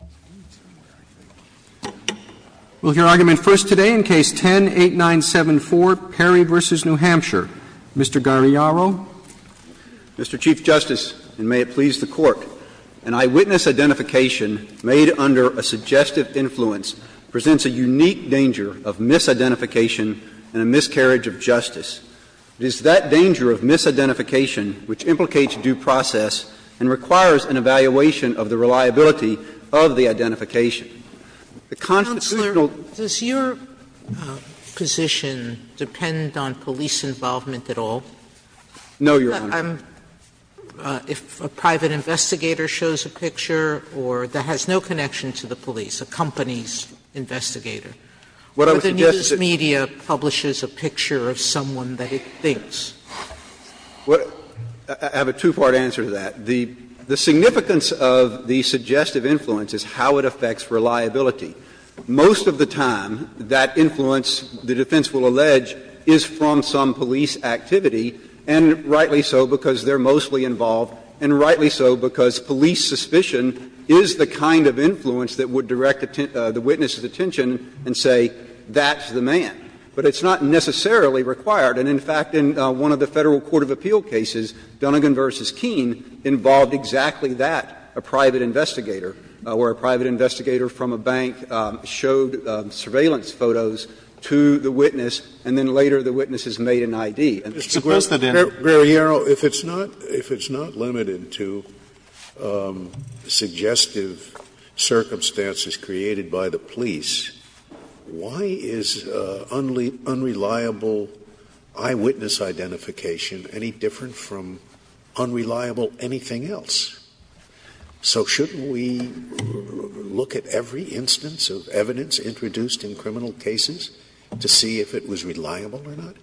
v. New Hampshire, Mr. Gagliaro. Mr. Chief Justice, and may it please the Court, an eyewitness identification made under a suggestive influence presents a unique danger of misidentification and a miscarriage of justice. It is that danger of misidentification which implicates due process and requires an evaluation of the reliability of the identification. The constitutional Sotomayor's counsel, does your position depend on police involvement at all? No, Your Honor. If a private investigator shows a picture or that has no connection to the police, a company's investigator, or the news media publishes a picture of someone that it thinks? I have a two-part answer to that. The significance of the suggestive influence is how it affects reliability. Most of the time, that influence, the defense will allege, is from some police activity, and rightly so because they are mostly involved, and rightly so because police suspicion is the kind of influence that would direct the witness's attention and say that's the man. But it's not necessarily required. And in fact, in one of the Federal Court of Appeal cases, Dunnegan v. Keene, involved exactly that, a private investigator, where a private investigator from a bank showed surveillance photos to the witness, and then later the witness has made an ID. And Mr. Guerriero, if it's not limited to suggestive circumstances created by the police, why is unreliable eyewitness identification any different from unreliable anything else? So shouldn't we look at every instance of evidence introduced in criminal cases to see if it was reliable or not?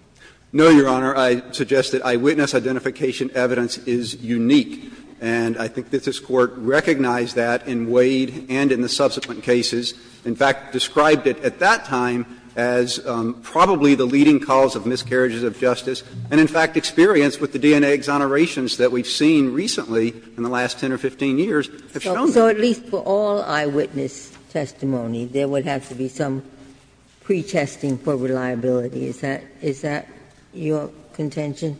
No, Your Honor. I suggest that eyewitness identification evidence is unique, and I think that this Court recognized that in Wade and in the subsequent cases. In fact, described it at that time as probably the leading cause of miscarriages of justice, and in fact, experience with the DNA exonerations that we've seen recently in the last 10 or 15 years have shown that. So at least for all eyewitness testimony, there would have to be some pretesting for reliability. Is that your contention?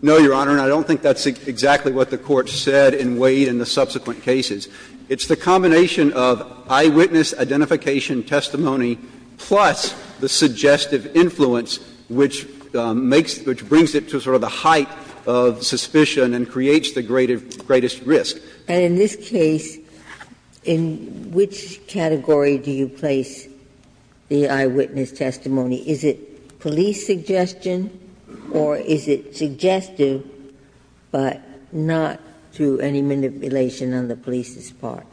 No, Your Honor, and I don't think that's exactly what the Court said in Wade and the subsequent cases. It's the combination of eyewitness identification testimony plus the suggestive influence which makes the question, which brings it to sort of the height of suspicion and creates the greatest risk. And in this case, in which category do you place the eyewitness testimony? Is it police suggestion or is it suggestive, but not to any manipulation on the police's part?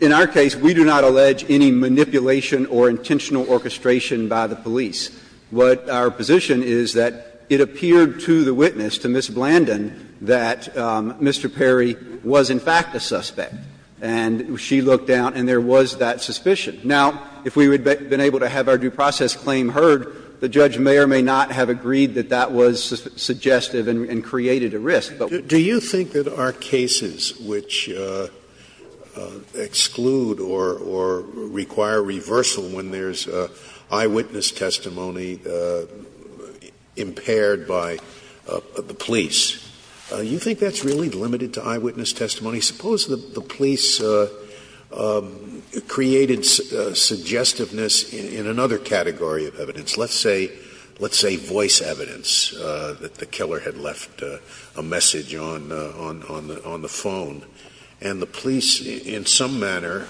In our case, we do not allege any manipulation or intentional orchestration by the police. What our position is that it appeared to the witness, to Ms. Blandin, that Mr. Perry was in fact a suspect, and she looked down and there was that suspicion. Now, if we had been able to have our due process claim heard, the judge may or may not have agreed that that was suggestive and created a risk. Do you think that our cases which exclude or require reversal when there's eyewitness testimony impaired by the police, do you think that's really limited to eyewitness testimony? Suppose the police created suggestiveness in another category of evidence. Let's say voice evidence, that the killer had left a message on the phone, and the police in some manner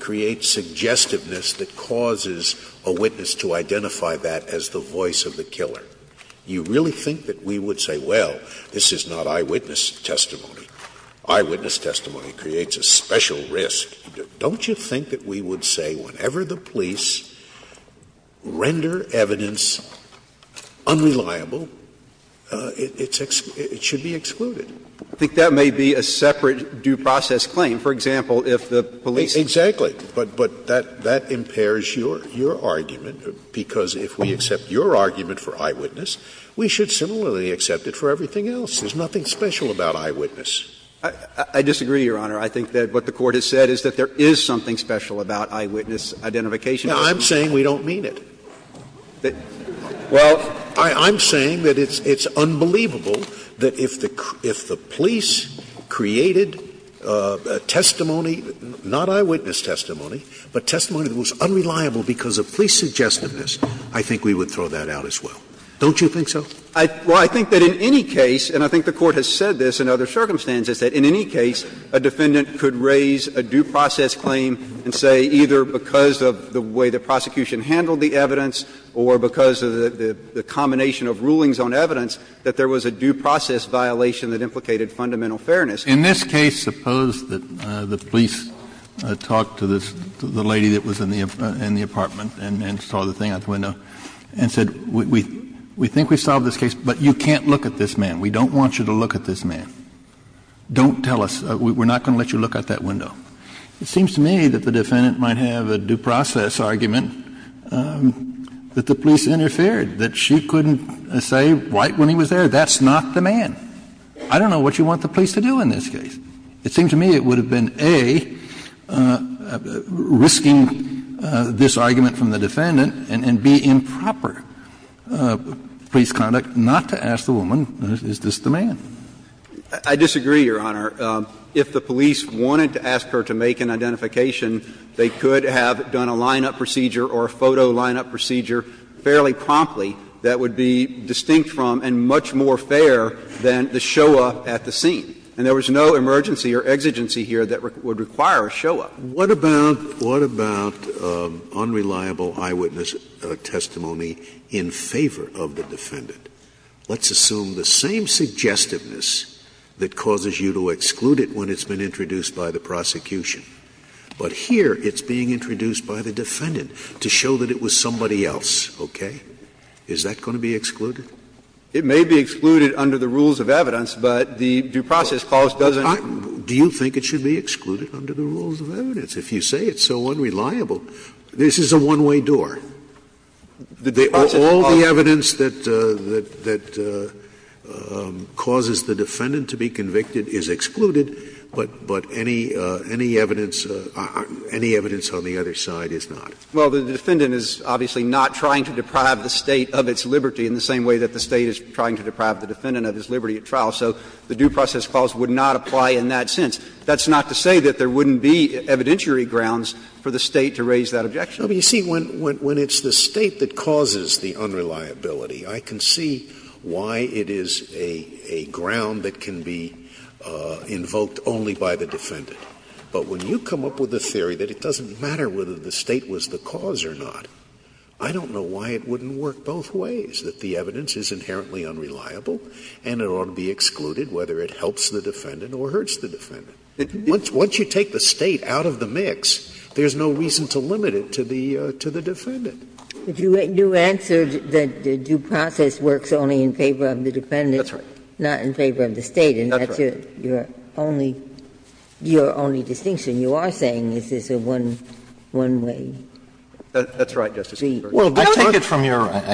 create suggestiveness that causes a witness to identify that as the voice of the killer. Do you really think that we would say, well, this is not eyewitness testimony? Eyewitness testimony creates a special risk. Don't you think that we would say whenever the police render evidence unreliable, it should be excluded? I think that may be a separate due process claim. For example, if the police. Exactly. But that impairs your argument, because if we accept your argument for eyewitness, we should similarly accept it for everything else. There's nothing special about eyewitness. I disagree, Your Honor. I think that what the Court has said is that there is something special about eyewitness identification. Scalia. I'm saying we don't mean it. Well, I'm saying that it's unbelievable that if the police created testimony, not eyewitness testimony, but testimony that was unreliable because of police suggestiveness, I think we would throw that out as well. Don't you think so? Well, I think that in any case, and I think the Court has said this in other circumstances, that in any case, a defendant could raise a due process claim and say either because of the way the prosecution handled the evidence or because of the combination of rulings on evidence, that there was a due process violation that implicated fundamental fairness. In this case, suppose that the police talked to this lady that was in the apartment and saw the thing out the window and said, we think we solved this case, but you can't look at this man. We don't want you to look at this man. Don't tell us. We're not going to let you look out that window. It seems to me that the defendant might have a due process argument that the police interfered, that she couldn't say right when he was there, that's not the man. I don't know what you want the police to do in this case. It seems to me it would have been, A, risking this argument from the defendant and, B, improper police conduct not to ask the woman, is this the man? I disagree, Your Honor. If the police wanted to ask her to make an identification, they could have done a lineup procedure or a photo lineup procedure fairly promptly that would be distinct from and much more fair than the show-up at the scene. And there was no emergency or exigency here that would require a show-up. Scalia. What about unreliable eyewitness testimony in favor of the defendant? Let's assume the same suggestiveness that causes you to exclude it when it's been introduced by the prosecution, but here it's being introduced by the defendant to show that it was somebody else, okay? Is that going to be excluded? It may be excluded under the rules of evidence, but the due process clause doesn't Do you think it should be excluded under the rules of evidence? If you say it's so unreliable, this is a one-way door. The due process clause All the evidence that causes the defendant to be convicted is excluded, but any evidence on the other side is not. Well, the defendant is obviously not trying to deprive the State of its liberty in the same way that the State is trying to deprive the defendant of its liberty at trial. So the due process clause would not apply in that sense. That's not to say that there wouldn't be evidentiary grounds for the State to raise that objection. Scalia, you see, when it's the State that causes the unreliability, I can see why it is a ground that can be invoked only by the defendant. But when you come up with a theory that it doesn't matter whether the State was the cause or not, I don't know why it wouldn't work both ways, that the evidence is inherently unreliable and it ought to be excluded, whether it helps the defendant or hurts the defendant. Once you take the State out of the mix, there's no reason to limit it to the defendant. But you answered that the due process works only in favor of the defendant. That's right. Not in favor of the State. And that's your only distinction. You are saying this is a one-way street. That's right, Justice Ginsburg. Well, I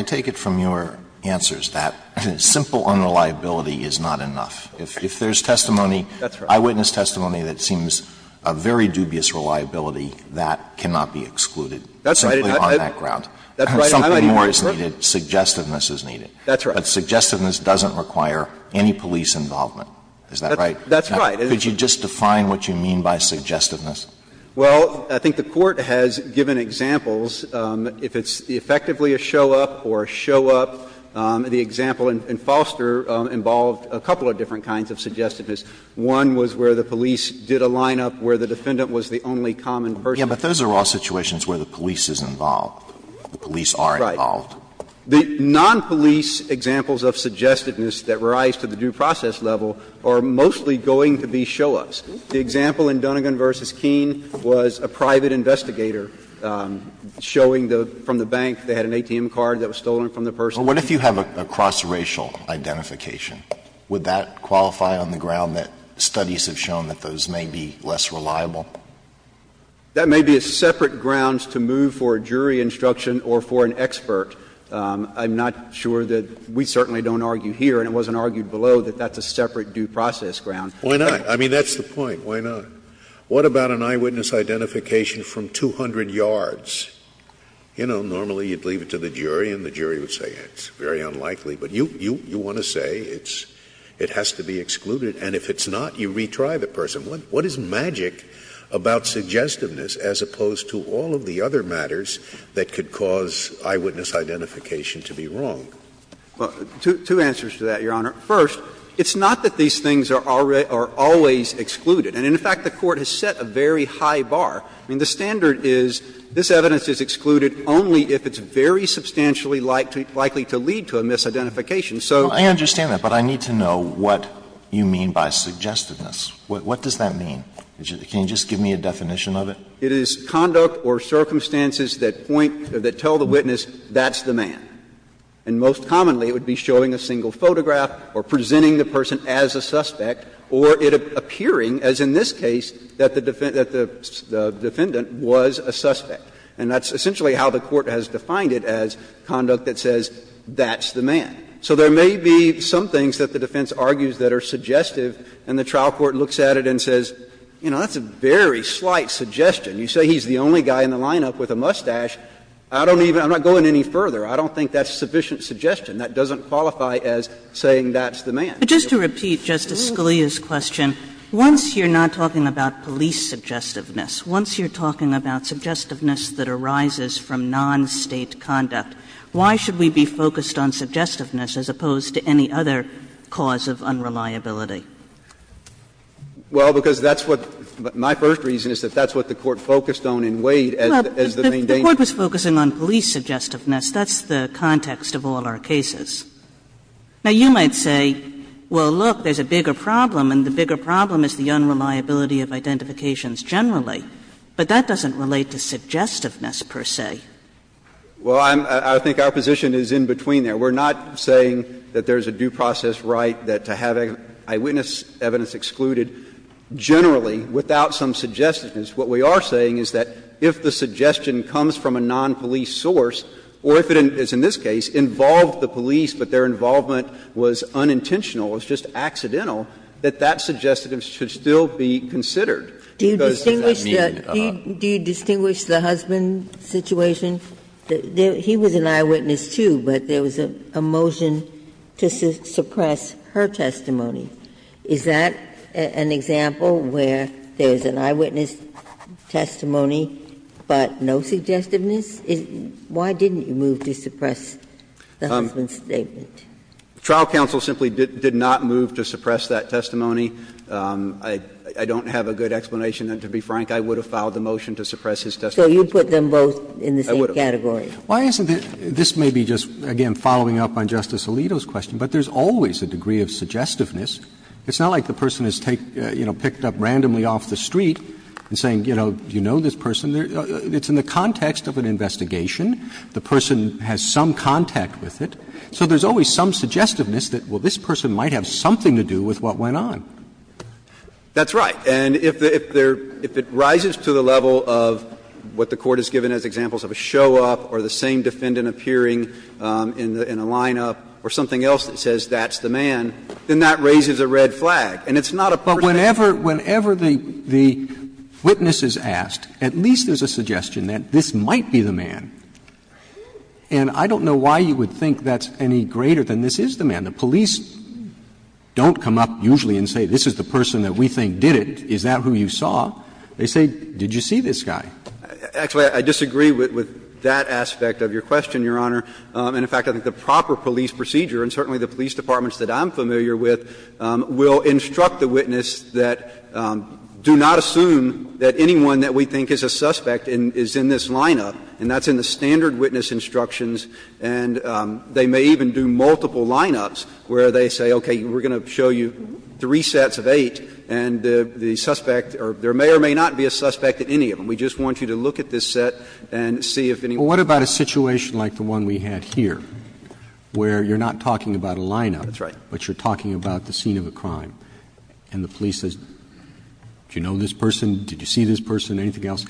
take it from your answers that simple unreliability is not enough. If there's testimony, eyewitness testimony. If there's testimony that seems a very dubious reliability, that cannot be excluded simply on that ground. That's right. I might agree with that. Suggestiveness is needed. That's right. But suggestiveness doesn't require any police involvement. Is that right? That's right. Could you just define what you mean by suggestiveness? Well, I think the Court has given examples. If it's effectively a show-up or a show-up, the example in Foster involved a couple of different kinds of suggestiveness. One was where the police did a lineup where the defendant was the only common person. Yes, but those are all situations where the police is involved, the police are involved. Right. The non-police examples of suggestiveness that rise to the due process level are mostly going to be show-ups. The example in Dunnegan v. Keene was a private investigator showing from the bank they had an ATM card that was stolen from the person. Well, what if you have a cross-racial identification? Would that qualify on the ground that studies have shown that those may be less reliable? That may be a separate ground to move for a jury instruction or for an expert. I'm not sure that we certainly don't argue here, and it wasn't argued below, that that's a separate due process ground. Why not? I mean, that's the point. Why not? What about an eyewitness identification from 200 yards? You know, normally you'd leave it to the jury and the jury would say it's very unlikely. But you want to say it has to be excluded, and if it's not, you retry the person. What is magic about suggestiveness as opposed to all of the other matters that could cause eyewitness identification to be wrong? Well, two answers to that, Your Honor. First, it's not that these things are always excluded. And in fact, the Court has set a very high bar. I mean, the standard is this evidence is excluded only if it's very substantially likely to lead to a misidentification. So. Alito, I understand that, but I need to know what you mean by suggestiveness. What does that mean? Can you just give me a definition of it? It is conduct or circumstances that point or that tell the witness that's the man. And most commonly, it would be showing a single photograph or presenting the person as a suspect or it appearing, as in this case, that the defendant was a suspect. And that's essentially how the Court has defined it as conduct that says that's the man. So there may be some things that the defense argues that are suggestive, and the trial court looks at it and says, you know, that's a very slight suggestion. You say he's the only guy in the lineup with a mustache. I don't even – I'm not going any further. I don't think that's sufficient suggestion. That doesn't qualify as saying that's the man. Kagan. Kagan. Sotomayor, I'm going to repeat Justice Scalia's question. Once you're not talking about police suggestiveness, once you're talking about suggestiveness that arises from non-State conduct, why should we be focused on suggestiveness as opposed to any other cause of unreliability? Well, because that's what – my first reason is that that's what the Court focused on in Wade as the main definition. If the Court was focusing on police suggestiveness, that's the context of all our cases. Now, you might say, well, look, there's a bigger problem, and the bigger problem is the unreliability of identifications generally. But that doesn't relate to suggestiveness, per se. Well, I'm – I think our position is in between there. We're not saying that there's a due process right that to have eyewitness evidence excluded generally without some suggestiveness. What we are saying is that if the suggestion comes from a non-police source, or if it is, in this case, involved the police but their involvement was unintentional, it was just accidental, that that suggestiveness should still be considered. Because does that mean that a lot? Do you distinguish the husband situation? He was an eyewitness, too, but there was a motion to suppress her testimony. Is that an example where there's an eyewitness testimony but no suggestiveness? Why didn't you move to suppress the husband's statement? Verrilli, trial counsel simply did not move to suppress that testimony. I don't have a good explanation, and to be frank, I would have filed the motion to suppress his testimony. So you put them both in the same category. Why isn't it – this may be just, again, following up on Justice Alito's question, but there's always a degree of suggestiveness. It's not like the person is, you know, picked up randomly off the street and saying, you know, do you know this person? It's in the context of an investigation. The person has some contact with it. So there's always some suggestiveness that, well, this person might have something to do with what went on. That's right. And if it rises to the level of what the Court has given as examples of a show-up or the same defendant appearing in a line-up or something else that says that's the man, then that raises a red flag. And it's not a person's case. But whenever the witness is asked, at least there's a suggestion that this might be the man. And I don't know why you would think that's any greater than this is the man. The police don't come up usually and say, this is the person that we think did it. Is that who you saw? They say, did you see this guy? Actually, I disagree with that aspect of your question, Your Honor. And, in fact, I think the proper police procedure, and certainly the police departments that I'm familiar with, will instruct the witness that, do not assume that anyone that we think is a suspect is in this line-up, and that's in the standard witness instructions. And they may even do multiple line-ups where they say, okay, we're going to show you three sets of eight, and the suspect or there may or may not be a suspect in any of them. We just want you to look at this set and see if anyone is a suspect. Roberts Well, what about a situation like the one we had here, where you're not talking about a line-up. Verrilli, That's right. Roberts But you're talking about the scene of a crime, and the police says, do you know this person, did you see this person, anything else?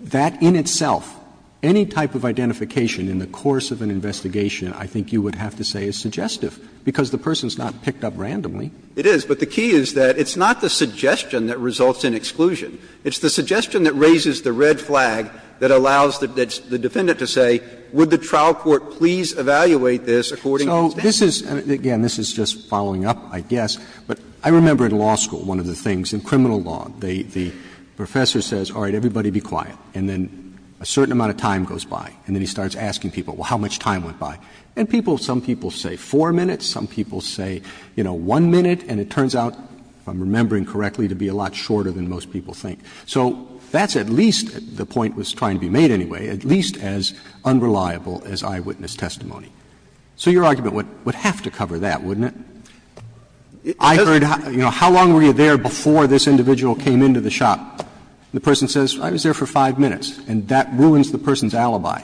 That in itself, any type of identification in the course of an investigation, I think you would have to say is suggestive, because the person's not picked up randomly. Verrilli, It is, but the key is that it's not the suggestion that results in exclusion. It's the suggestion that raises the red flag that allows the defendant to say, would the trial court please evaluate this according to standard? Roberts So this is, and again, this is just following up, I guess, but I remember in law school, one of the things in criminal law, the professor says, all right, everybody be quiet, and then a certain amount of time goes by, and then he starts asking people, well, how much time went by? And people, some people say 4 minutes, some people say, you know, 1 minute, and it turns out, if I'm remembering correctly, to be a lot shorter than most people think. So that's at least, the point was trying to be made anyway, at least as unreliable as eyewitness testimony. So your argument would have to cover that, wouldn't it? I heard, you know, how long were you there before this individual came into the shop? The person says, I was there for 5 minutes, and that ruins the person's alibi.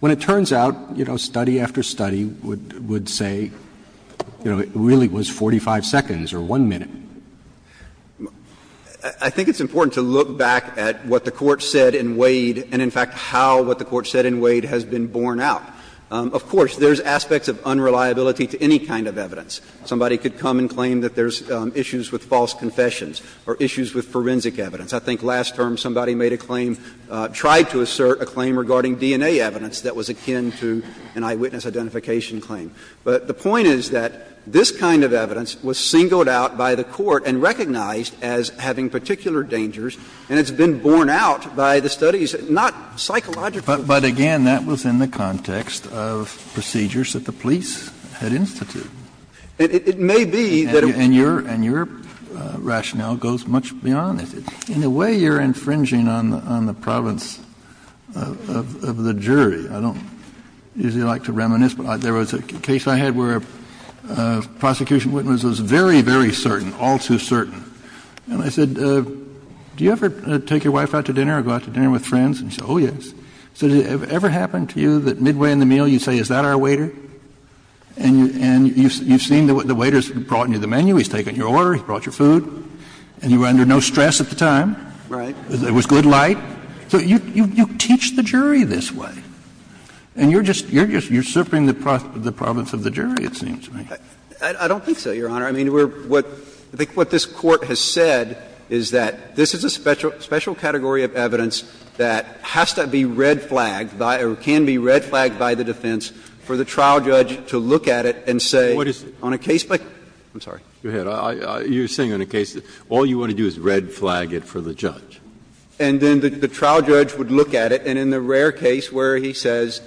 When it turns out, you know, study after study would say, you know, it really was 45 seconds or 1 minute. I think it's important to look back at what the Court said in Wade and, in fact, how what the Court said in Wade has been borne out. Of course, there's aspects of unreliability to any kind of evidence. Somebody could come and claim that there's issues with false confessions or issues with forensic evidence. I think last term somebody made a claim, tried to assert a claim regarding DNA evidence that was akin to an eyewitness identification claim. But the point is that this kind of evidence was singled out by the Court and recognized as having particular dangers, and it's been borne out by the studies, not psychologically. Kennedy, but again, that was in the context of procedures that the police had instituted. And it may be that it was. And your rationale goes much beyond that. In a way, you're infringing on the province of the jury. I don't usually like to reminisce, but there was a case I had where a prosecution witness was very, very certain, all too certain. And I said, do you ever take your wife out to dinner or go out to dinner with friends? And she said, oh, yes. I said, has it ever happened to you that midway in the meal you say, is that our waiter? And you've seen the waiter's brought you the menu, he's taken your order, he's brought your food, and you were under no stress at the time. Right. It was good light. So you teach the jury this way. And you're just usurping the province of the jury, it seems to me. I don't think so, Your Honor. I mean, we're what the court has said is that this is a special category of evidence that has to be red flagged by or can be red flagged by the defense for the trial judge to look at it and say on a case by case. I'm sorry. You're saying on a case that all you want to do is red flag it for the judge. And then the trial judge would look at it, and in the rare case where he says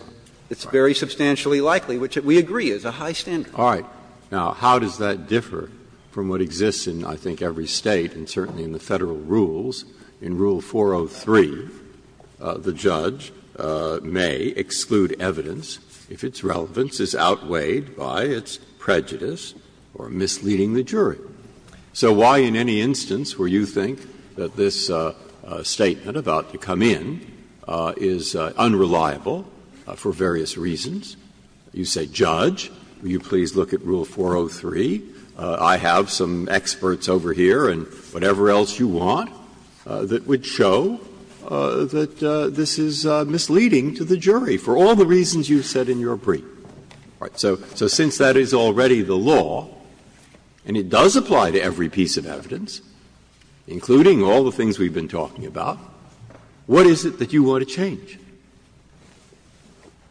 it's very substantially likely, which we agree is a high standard. All right. Now, how does that differ from what exists in, I think, every State, and certainly in the Federal rules, in Rule 403, the judge may exclude evidence if its relevance is outweighed by its prejudice or misleading the jury. So why in any instance where you think that this statement about to come in is unreliable for various reasons, you say, Judge, will you please look at Rule 403? I have some experts over here and whatever else you want that would show that this is misleading to the jury for all the reasons you said in your brief. All right. So since that is already the law, and it does apply to every piece of evidence, including all the things we've been talking about, what is it that you want to change?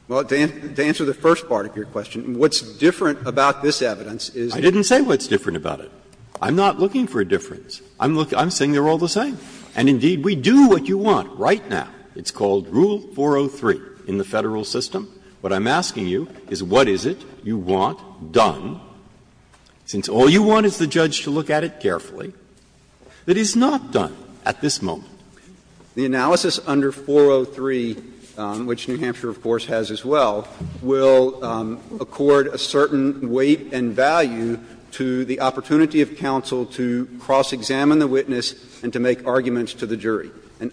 Well, to answer the first part of your question, what's different about this evidence is that it's not. I didn't say what's different about it. I'm not looking for a difference. I'm saying they're all the same. And indeed, we do what you want right now. It's called Rule 403 in the Federal system. What I'm asking you is what is it you want done, since all you want is the judge to look at it carefully, that is not done at this moment? The analysis under 403, which New Hampshire, of course, has as well, will accord a certain weight and value to the opportunity of counsel to cross-examine And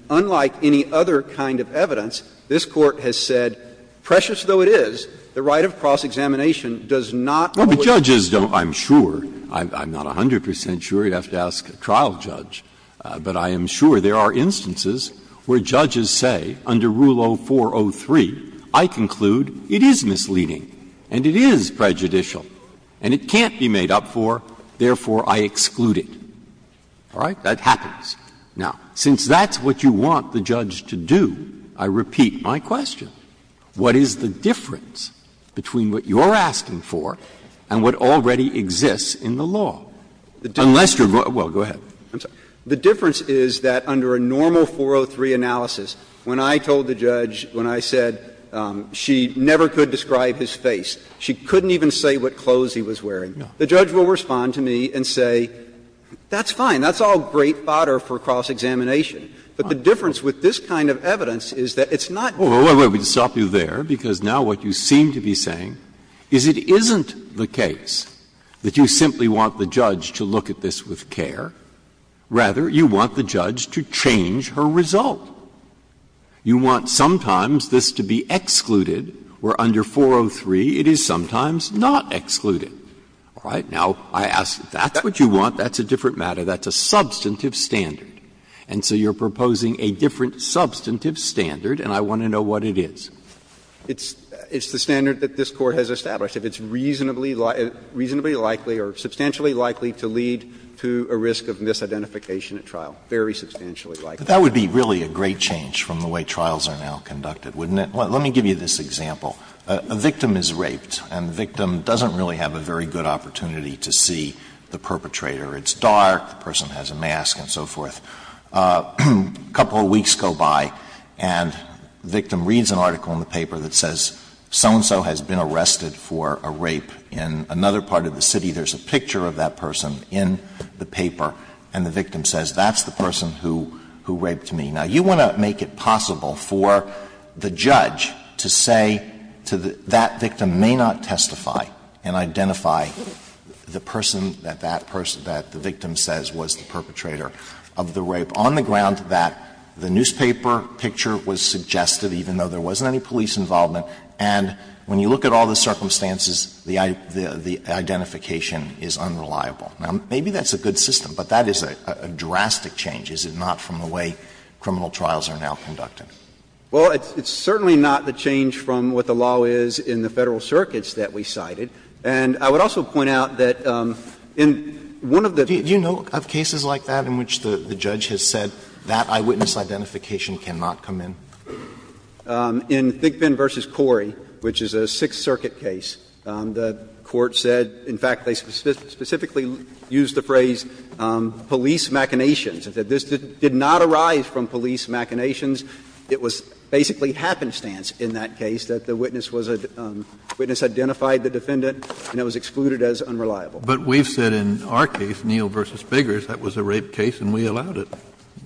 unlike any other kind of evidence, this Court has said, precious though it is, the right of cross-examination does not always apply. Breyer, but judges don't, I'm sure, I'm not 100 percent sure, you'd have to ask a trial judge, but I am sure there are instances where judges say, under Rule 0403, I conclude it is misleading, and it is prejudicial, and it can't be made up for, therefore, I exclude it. All right? That happens. Now, since that's what you want the judge to do, I repeat my question. What is the difference between what you're asking for and what already exists in the law? Unless you're, well, go ahead. I'm sorry. The difference is that under a normal 403 analysis, when I told the judge, when I said she never could describe his face, she couldn't even say what clothes he was wearing, the judge will respond to me and say, that's fine, that's all great fodder for cross-examination. But the difference with this kind of evidence is that it's not. Breyer, we'll stop you there, because now what you seem to be saying is it isn't the case that you simply want the judge to look at this with care. Rather, you want the judge to change her result. You want sometimes this to be excluded, where under 403 it is sometimes not excluded. All right? Now, I ask, if that's what you want, that's a different matter. That's a substantive standard. And so you're proposing a different substantive standard, and I want to know what it is. It's the standard that this Court has established. If it's reasonably likely or substantially likely to lead to a risk of misidentification at trial, very substantially likely. Alito, that would be really a great change from the way trials are now conducted, wouldn't it? Let me give you this example. A victim is raped, and the victim doesn't really have a very good opportunity to see the perpetrator. It's dark, the person has a mask, and so forth. A couple of weeks go by, and the victim reads an article in the paper that says so-and-so has been arrested for a rape in another part of the city. There's a picture of that person in the paper, and the victim says, that's the person who raped me. Now, you want to make it possible for the judge to say to the — that victim may not know that the victim says was the perpetrator of the rape, on the ground that the newspaper picture was suggested, even though there wasn't any police involvement, and when you look at all the circumstances, the identification is unreliable. Now, maybe that's a good system, but that is a drastic change, is it not, from the way criminal trials are now conducted? Well, it's certainly not the change from what the law is in the Federal circuits that we cited. And I would also point out that in one of the — Alitoso, do you know of cases like that in which the judge has said that eyewitness identification cannot come in? In Thigpen v. Corey, which is a Sixth Circuit case, the court said, in fact, they specifically used the phrase, police machinations, that this did not arise from police machinations. It was basically happenstance in that case that the witness was a — the witness identified the defendant, and it was excluded as unreliable. But we've said in our case, Neal v. Biggers, that was a rape case and we allowed it.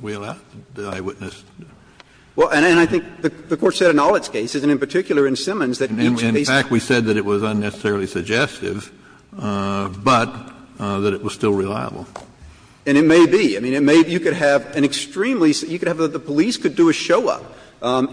We allowed the eyewitness. Well, and I think the Court said in all its cases, and in particular in Simmons, that each case was— In fact, we said that it was unnecessarily suggestive, but that it was still reliable. And it may be. I mean, it may be you could have an extremely — you could have the police could do a show-up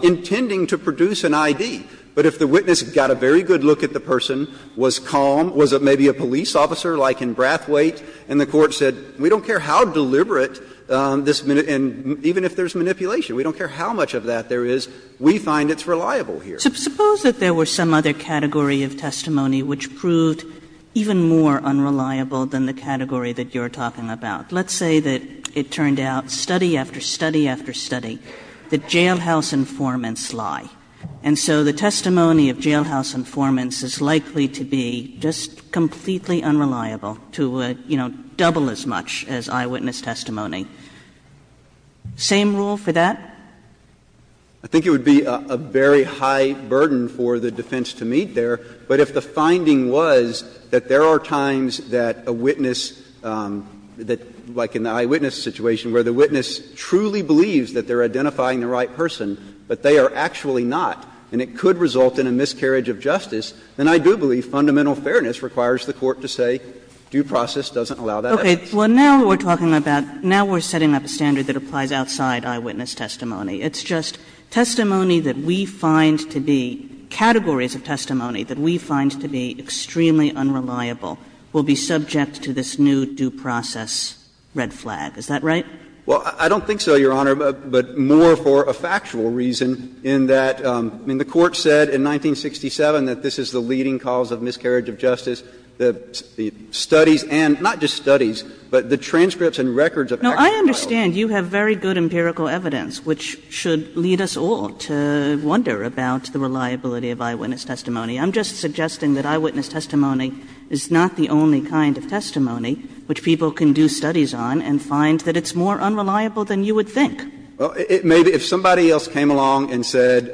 intending to produce an I.D., but if the witness got a very good look at the person, was calm, was maybe a police officer like in Brathwaite, and the Court said, we don't care how deliberate this — and even if there's manipulation, we don't care how much of that there is, we find it's reliable here. Suppose that there were some other category of testimony which proved even more unreliable than the category that you're talking about. Let's say that it turned out, study after study after study, that jailhouse informants lie. And so the testimony of jailhouse informants is likely to be just completely unreliable, to, you know, double as much as eyewitness testimony. Same rule for that? I think it would be a very high burden for the defense to meet there. But if the finding was that there are times that a witness that, like in the eyewitness situation, where the witness truly believes that they're identifying the right person, but they are actually not, and it could result in a miscarriage of justice, then I do believe fundamental fairness requires the Court to say due process doesn't allow that evidence. Okay. Well, now we're talking about — now we're setting up a standard that applies outside eyewitness testimony. It's just testimony that we find to be — categories of testimony that we find to be extremely unreliable will be subject to this new due process red flag. Is that right? Well, I don't think so, Your Honor. But more for a factual reason, in that, I mean, the Court said in 1967 that this is the leading cause of miscarriage of justice. The studies and — not just studies, but the transcripts and records of actual trials. No, I understand you have very good empirical evidence, which should lead us all to wonder about the reliability of eyewitness testimony. I'm just suggesting that eyewitness testimony is not the only kind of testimony which people can do studies on and find that it's more unreliable than you would think. Well, it may be — if somebody else came along and said,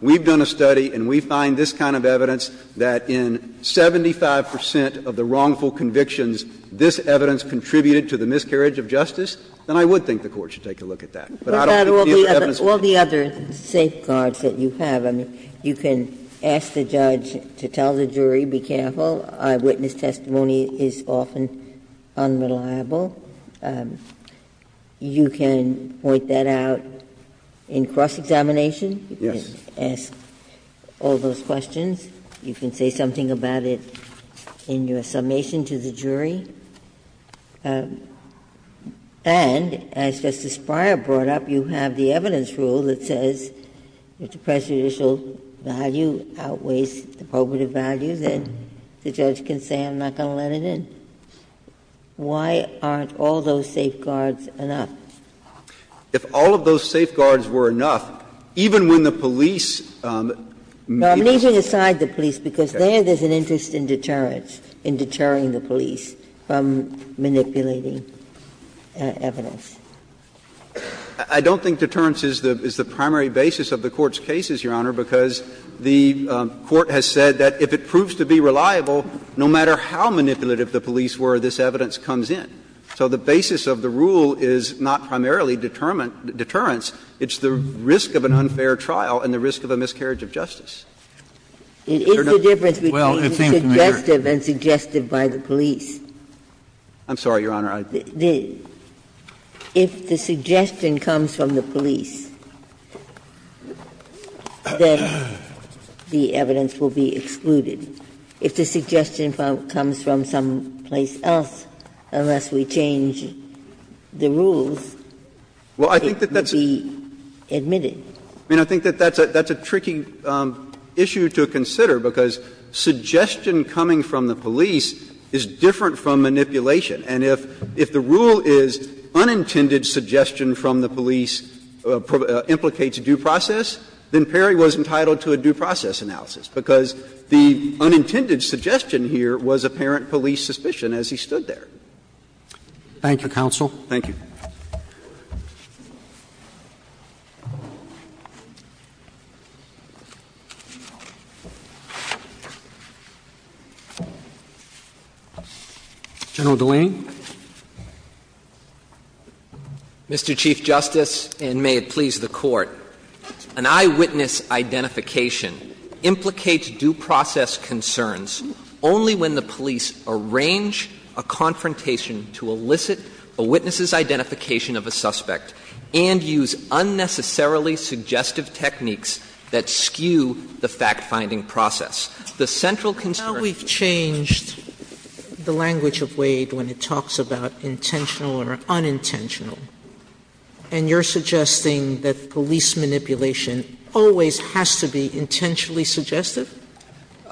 we've done a study and we find this kind of evidence, that in 75 percent of the wrongful convictions, this evidence contributed to the miscarriage of justice, then I would think the Court should take a look at that. But I don't think the evidence would be unreliable. All the other safeguards that you have, I mean, you can ask the judge to tell the jury, be careful, eyewitness testimony is often unreliable. You can point that out in cross-examination. Yes. You can ask all those questions. You can say something about it in your summation to the jury. And as Justice Breyer brought up, you have the evidence rule that says if the prejudicial value outweighs the probative value, then the judge can say, I'm not going to let it in. Why aren't all those safeguards enough? If all of those safeguards were enough, even when the police made the case. Now, I'm going to need you to decide the police, because there there's an interest in deterrence, in deterring the police from manipulating evidence. I don't think deterrence is the primary basis of the Court's cases, Your Honor, because the Court has said that if it proves to be reliable, no matter how manipulative the police were, this evidence comes in. So the basis of the rule is not primarily deterrence. It's the risk of an unfair trial and the risk of a miscarriage of justice. Is there not? Ginsburg. It is the difference between suggestive and suggested by the police. I'm sorry, Your Honor, I didn't. If the suggestion comes from the police, then the evidence will be excluded. If the suggestion comes from someplace else, unless we change the rules, it would be admitted. I mean, I think that that's a tricky issue to consider, because suggestion coming from the police is different from manipulation. And if the rule is unintended suggestion from the police implicates due process, then Perry was entitled to a due process analysis, because the unintended suggestion here was apparent police suspicion as he stood there. Roberts. Thank you, counsel. Thank you. General DeLaney. Mr. Chief Justice, and may it please the Court. An eyewitness identification implicates due process concerns only when the police arrange a confrontation to elicit a witness's identification of a suspect and use unnecessarily suggestive techniques that skew the fact-finding process. The central concern of the case is that the fact-finding process is not a due process process. Sotomayor, we've changed the language of Wade when it talks about intentional or unintentional, and you're suggesting that police manipulation always has to be intentionally suggestive?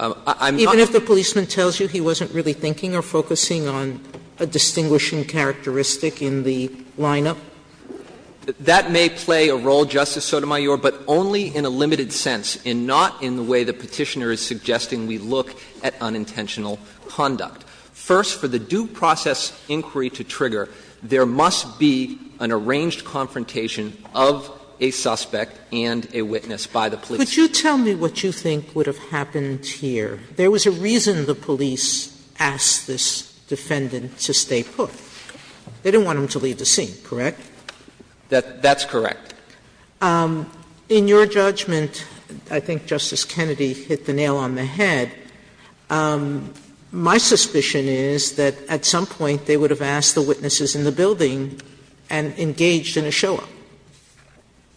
Even if the policeman tells you he wasn't really thinking or focusing on a distinguishing characteristic in the lineup? That may play a role, Justice Sotomayor, but only in a limited sense, and not in the way the Petitioner is suggesting we look at unintentional conduct. First, for the due process inquiry to trigger, there must be an arranged confrontation of a suspect and a witness by the police. Could you tell me what you think would have happened here? There was a reason the police asked this defendant to stay put. They didn't want him to leave the scene, correct? That's correct. In your judgment, I think Justice Kennedy hit the nail on the head. My suspicion is that at some point they would have asked the witnesses in the building and engaged in a show-up.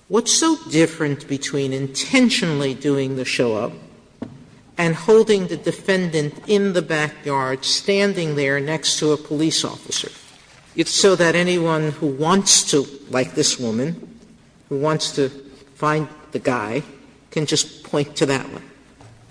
What's so different between intentionally doing the show-up and holding the defendant in the backyard, standing there next to a police officer, so that anyone who wants to, like this woman, who wants to find the guy, can just point to that one?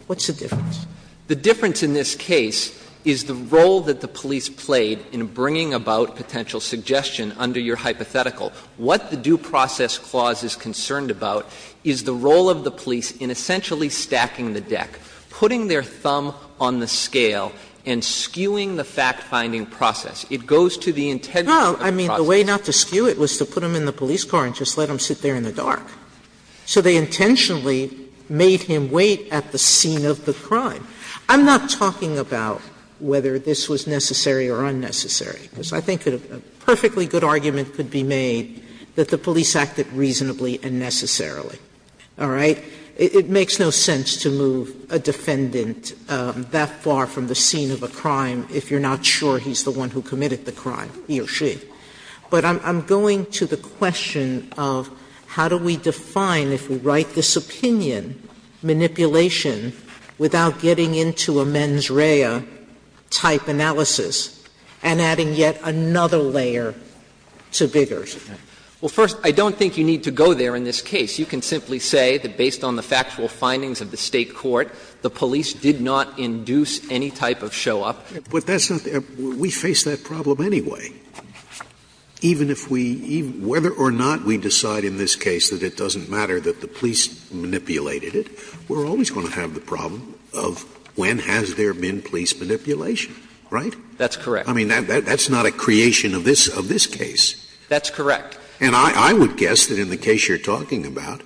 What's the difference? The difference in this case is the role that the police played in bringing about potential suggestion under your hypothetical. What the due process clause is concerned about is the role of the police in essentially stacking the deck, putting their thumb on the scale, and skewing the fact-finding process. It goes to the intent of the process. Well, I mean, the way not to skew it was to put him in the police car and just let him sit there in the dark. So they intentionally made him wait at the scene of the crime. I'm not talking about whether this was necessary or unnecessary, because I think a perfectly good argument could be made that the police acted reasonably and necessarily. All right? It makes no sense to move a defendant that far from the scene of a crime if you're not sure he's the one who committed the crime, he or she. Sotomayor, I don't think you need to go there in this case. You can simply say that based on the factual findings of the State court, the police did not induce any type of show-up. But that's not the — we face that problem anyway. Even if we — whether or not we decide in this case that it doesn't matter that the police manipulated it, we're always going to have the problem of when has there been police manipulation, right? That's correct. I mean, that's not a creation of this case. That's correct. And I would guess that in the case you're talking about,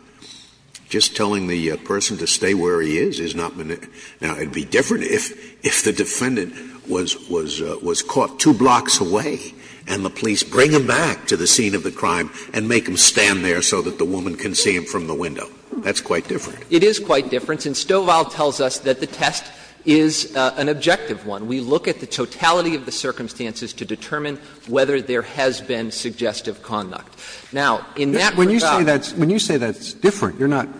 just telling the person to stay where he is is not — now, it would be different if the defendant was caught two blocks away and the police bring him back to the scene of the crime and make him stand there so that the woman can see him from the window. That's quite different. It is quite different. And Stovall tells us that the test is an objective one. We look at the totality of the circumstances to determine whether there has been suggestive conduct. Now, in that regard — When you say that's different, you're not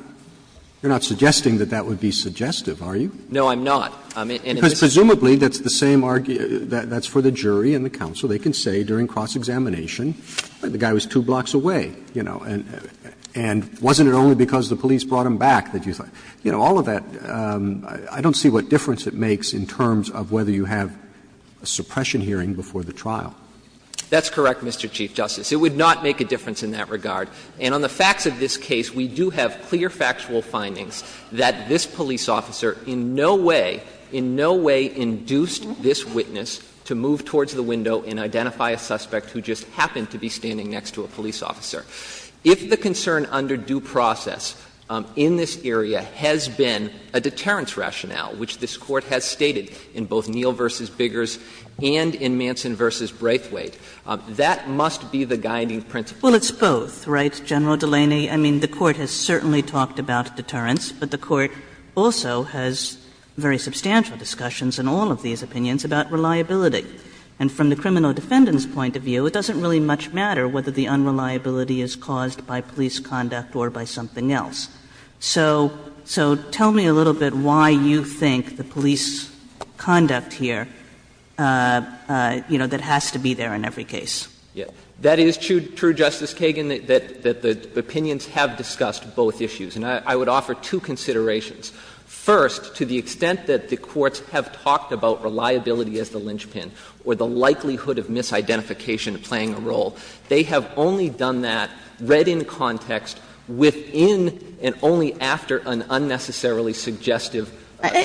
suggesting that that would be suggestive, are you? No, I'm not. Presumably, that's the same — that's for the jury and the counsel. They can say during cross-examination, the guy was two blocks away, you know, and wasn't it only because the police brought him back that you thought — you know, all of that, I don't see what difference it makes in terms of whether you have a suppression hearing before the trial. That's correct, Mr. Chief Justice. It would not make a difference in that regard. And on the facts of this case, we do have clear factual findings that this police officer in no way, in no way induced this witness to move towards the window and identify a suspect who just happened to be standing next to a police officer. If the concern under due process in this area has been a deterrence rationale, which this Court has stated in both Neill v. Biggers and in Manson v. Braithwaite, that must be the guiding principle. Well, it's both, right, General Delaney? I mean, the Court has certainly talked about deterrence, but the Court also has very substantial discussions in all of these opinions about reliability. And from the criminal defendant's point of view, it doesn't really much matter whether the unreliability is caused by police conduct or by something else. So tell me a little bit why you think the police conduct here, you know, that has to be there in every case. That is true, Justice Kagan, that the opinions have discussed both issues. And I would offer two considerations. First, to the extent that the courts have talked about reliability as the linchpin or the likelihood of misidentification playing a role, they have only done that, read in context, within and only after an unnecessarily suggestive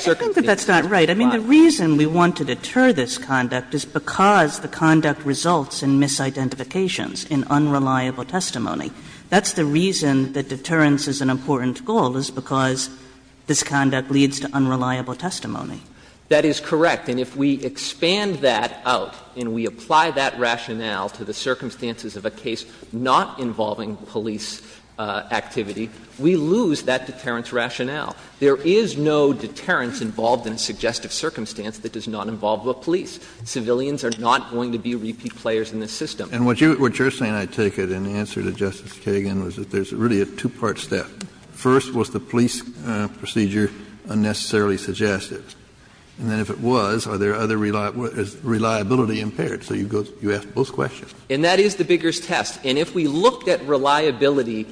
circumstance has been applied. I think that that's not right. I mean, the reason we want to deter this conduct is because the conduct results in misidentifications, in unreliable testimony. That's the reason that deterrence is an important goal, is because this conduct leads to unreliable testimony. That is correct. And if we expand that out and we apply that rationale to the circumstances of a case not involving police activity, we lose that deterrence rationale. There is no deterrence involved in a suggestive circumstance that does not involve the police. Civilians are not going to be repeat players in this system. And what you're saying, I take it, in answer to Justice Kagan, is that there's really a two-part step. First, was the police procedure unnecessarily suggestive? And then if it was, are there other reliability impaired? So you ask both questions. And that is the Bigger's test. And if we looked at reliability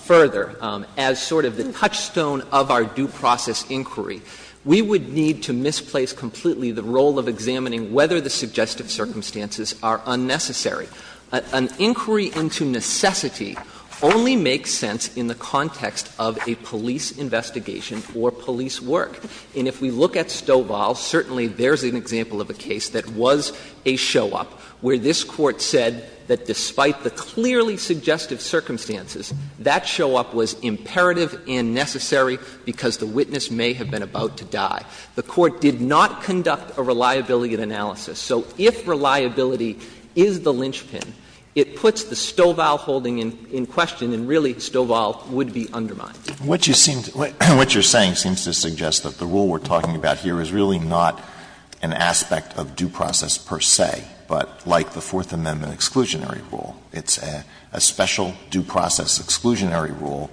further as sort of the touchstone of our due process inquiry, we would need to misplace completely the role of examining whether the suggestive circumstances are unnecessary. An inquiry into necessity only makes sense in the context of a police investigation or police work. And if we look at Stovall, certainly there's an example of a case that was a show-up where this Court said that despite the clearly suggestive circumstances, that show-up was imperative and necessary because the witness may have been about to die. The Court did not conduct a reliability analysis. So if reliability is the linchpin, it puts the Stovall holding in question, and really Stovall would be undermined. What you seem to — what you're saying seems to suggest that the rule we're talking about here is really not an aspect of due process per se, but like the Fourth Amendment exclusionary rule. It's a special due process exclusionary rule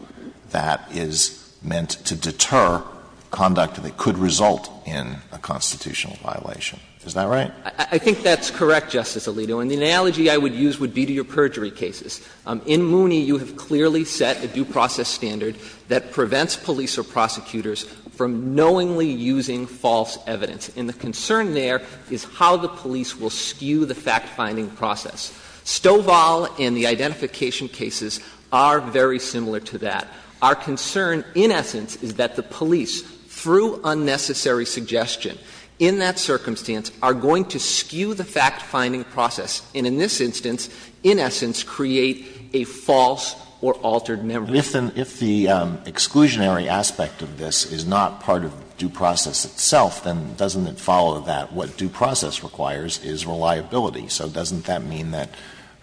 that is meant to deter conduct that could result in a constitutional violation. Is that right? I think that's correct, Justice Alito. And the analogy I would use would be to your perjury cases. In Mooney, you have clearly set a due process standard that prevents police or prosecutors from knowingly using false evidence. And the concern there is how the police will skew the fact-finding process. Stovall and the identification cases are very similar to that. Our concern, in essence, is that the police, through unnecessary suggestion in that circumstance, are going to skew the fact-finding process and in this instance, in essence, create a false or altered memory. But if the exclusionary aspect of this is not part of due process itself, then doesn't it follow that what due process requires is reliability? So doesn't that mean that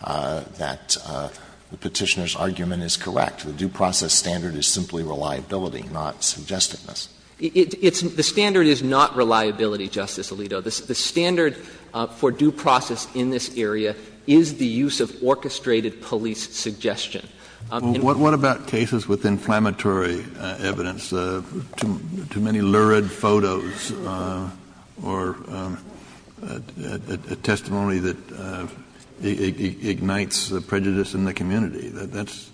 the Petitioner's argument is correct, the due process standard is simply reliability, not suggestedness? It's — the standard is not reliability, Justice Alito. The standard for due process in this area is the use of orchestrated police suggestion. Kennedy, what about cases with inflammatory evidence, too many lurid photos or a testimony that ignites prejudice in the community? That's a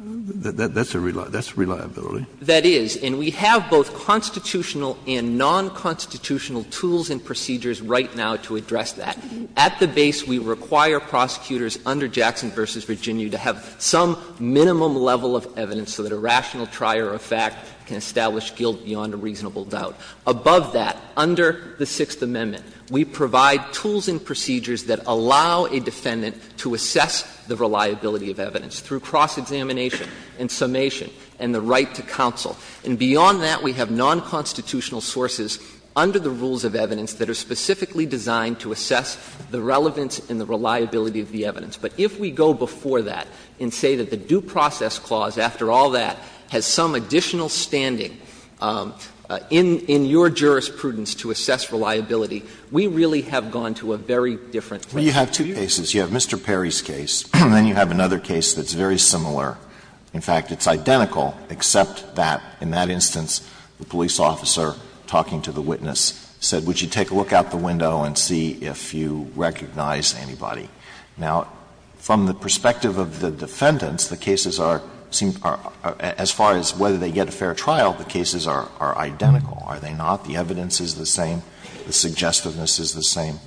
— that's reliability. That is. And we have both constitutional and nonconstitutional tools and procedures right now to address that. At the base, we require prosecutors under Jackson v. Virginia to have some minimum level of evidence so that a rational trier of fact can establish guilt beyond a reasonable doubt. Above that, under the Sixth Amendment, we provide tools and procedures that allow a defendant to assess the reliability of evidence through cross-examination and summation and the right to counsel. And beyond that, we have nonconstitutional sources under the rules of evidence that are specifically designed to assess the relevance and the reliability of the evidence. But if we go before that and say that the due process clause, after all that, has some additional standing in your jurisprudence to assess reliability, we really have gone to a very different place. Well, you have two cases. You have Mr. Perry's case, and then you have another case that's very similar. In fact, it's identical, except that in that instance, the police officer talking to the witness said, would you take a look out the window and see if you recognize anybody. Now, from the perspective of the defendants, the cases are seem to be, as far as whether they get a fair trial, the cases are identical, are they not? The evidence is the same? The suggestiveness is the same?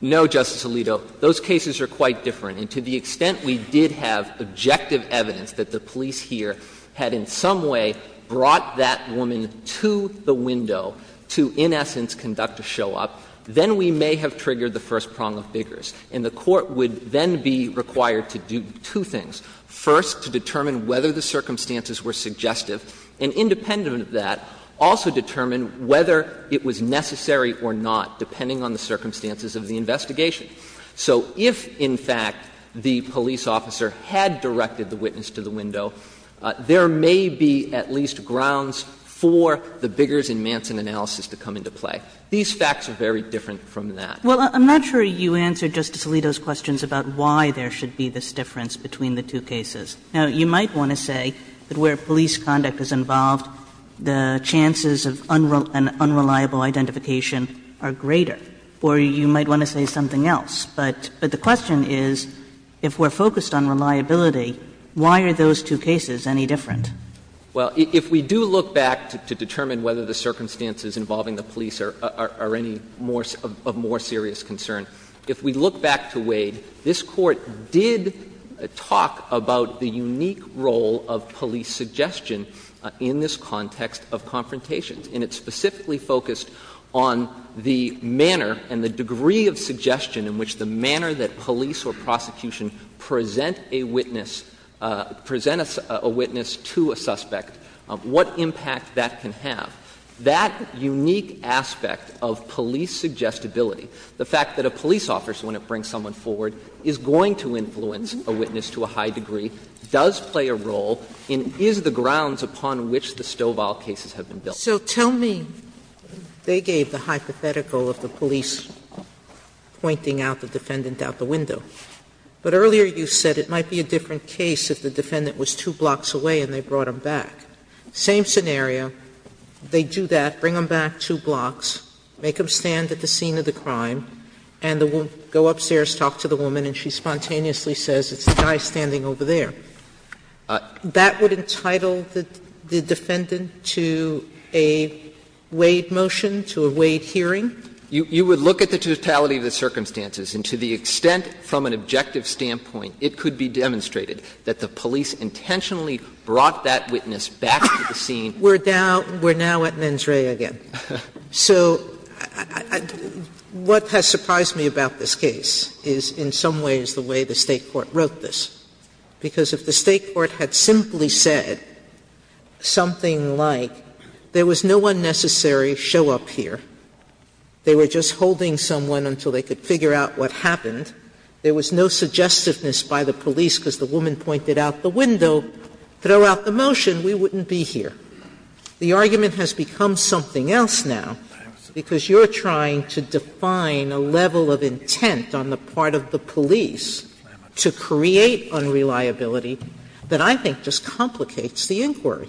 No, Justice Alito. Those cases are quite different. And to the extent we did have objective evidence that the police here had in some way brought that woman to the window to, in essence, conduct a show-up, then we may have triggered the first prong of biggers. And the Court would then be required to do two things. First, to determine whether the circumstances were suggestive, and independent of that, also determine whether it was necessary or not, depending on the circumstances of the investigation. So if, in fact, the police officer had directed the witness to the window, there may be at least grounds for the biggers in Manson analysis to come into play. These facts are very different from that. Kagan. Well, I'm not sure you answered Justice Alito's questions about why there should be this difference between the two cases. Now, you might want to say that where police conduct is involved, the chances of unreliable identification are greater. Or you might want to say something else. But the question is, if we're focused on reliability, why are those two cases any different? Well, if we do look back to determine whether the circumstances involving the police are any more of more serious concern, if we look back to Wade, this Court did talk about the unique role of police suggestion in this context of confrontations. And it specifically focused on the manner and the degree of suggestion in which the manner that police or prosecution present a witness, present a witness to a witness to a suspect, what impact that can have. That unique aspect of police suggestibility, the fact that a police officer, when it brings someone forward, is going to influence a witness to a high degree, does play a role and is the grounds upon which the Stovall cases have been built. So tell me, they gave the hypothetical of the police pointing out the defendant out the window. But earlier you said it might be a different case if the defendant was two blocks away and they brought him back. Same scenario, they do that, bring him back two blocks, make him stand at the scene of the crime, and the woman will go upstairs, talk to the woman, and she spontaneously says, it's the guy standing over there. That would entitle the defendant to a Wade motion, to a Wade hearing? You would look at the totality of the circumstances, and to the extent, from an objective standpoint, it could be demonstrated that the police intentionally brought that witness back to the scene. Sotomayor We're now at mens rea again. So what has surprised me about this case is in some ways the way the State court wrote this, because if the State court had simply said something like, there was no unnecessary show-up here, they were just holding someone until they could figure out what happened, there was no suggestiveness by the police because the woman pointed out the window, throw out the motion, we wouldn't be here. The argument has become something else now, because you're trying to define a level of intent on the part of the police to create unreliability that I think just complicates the inquiry.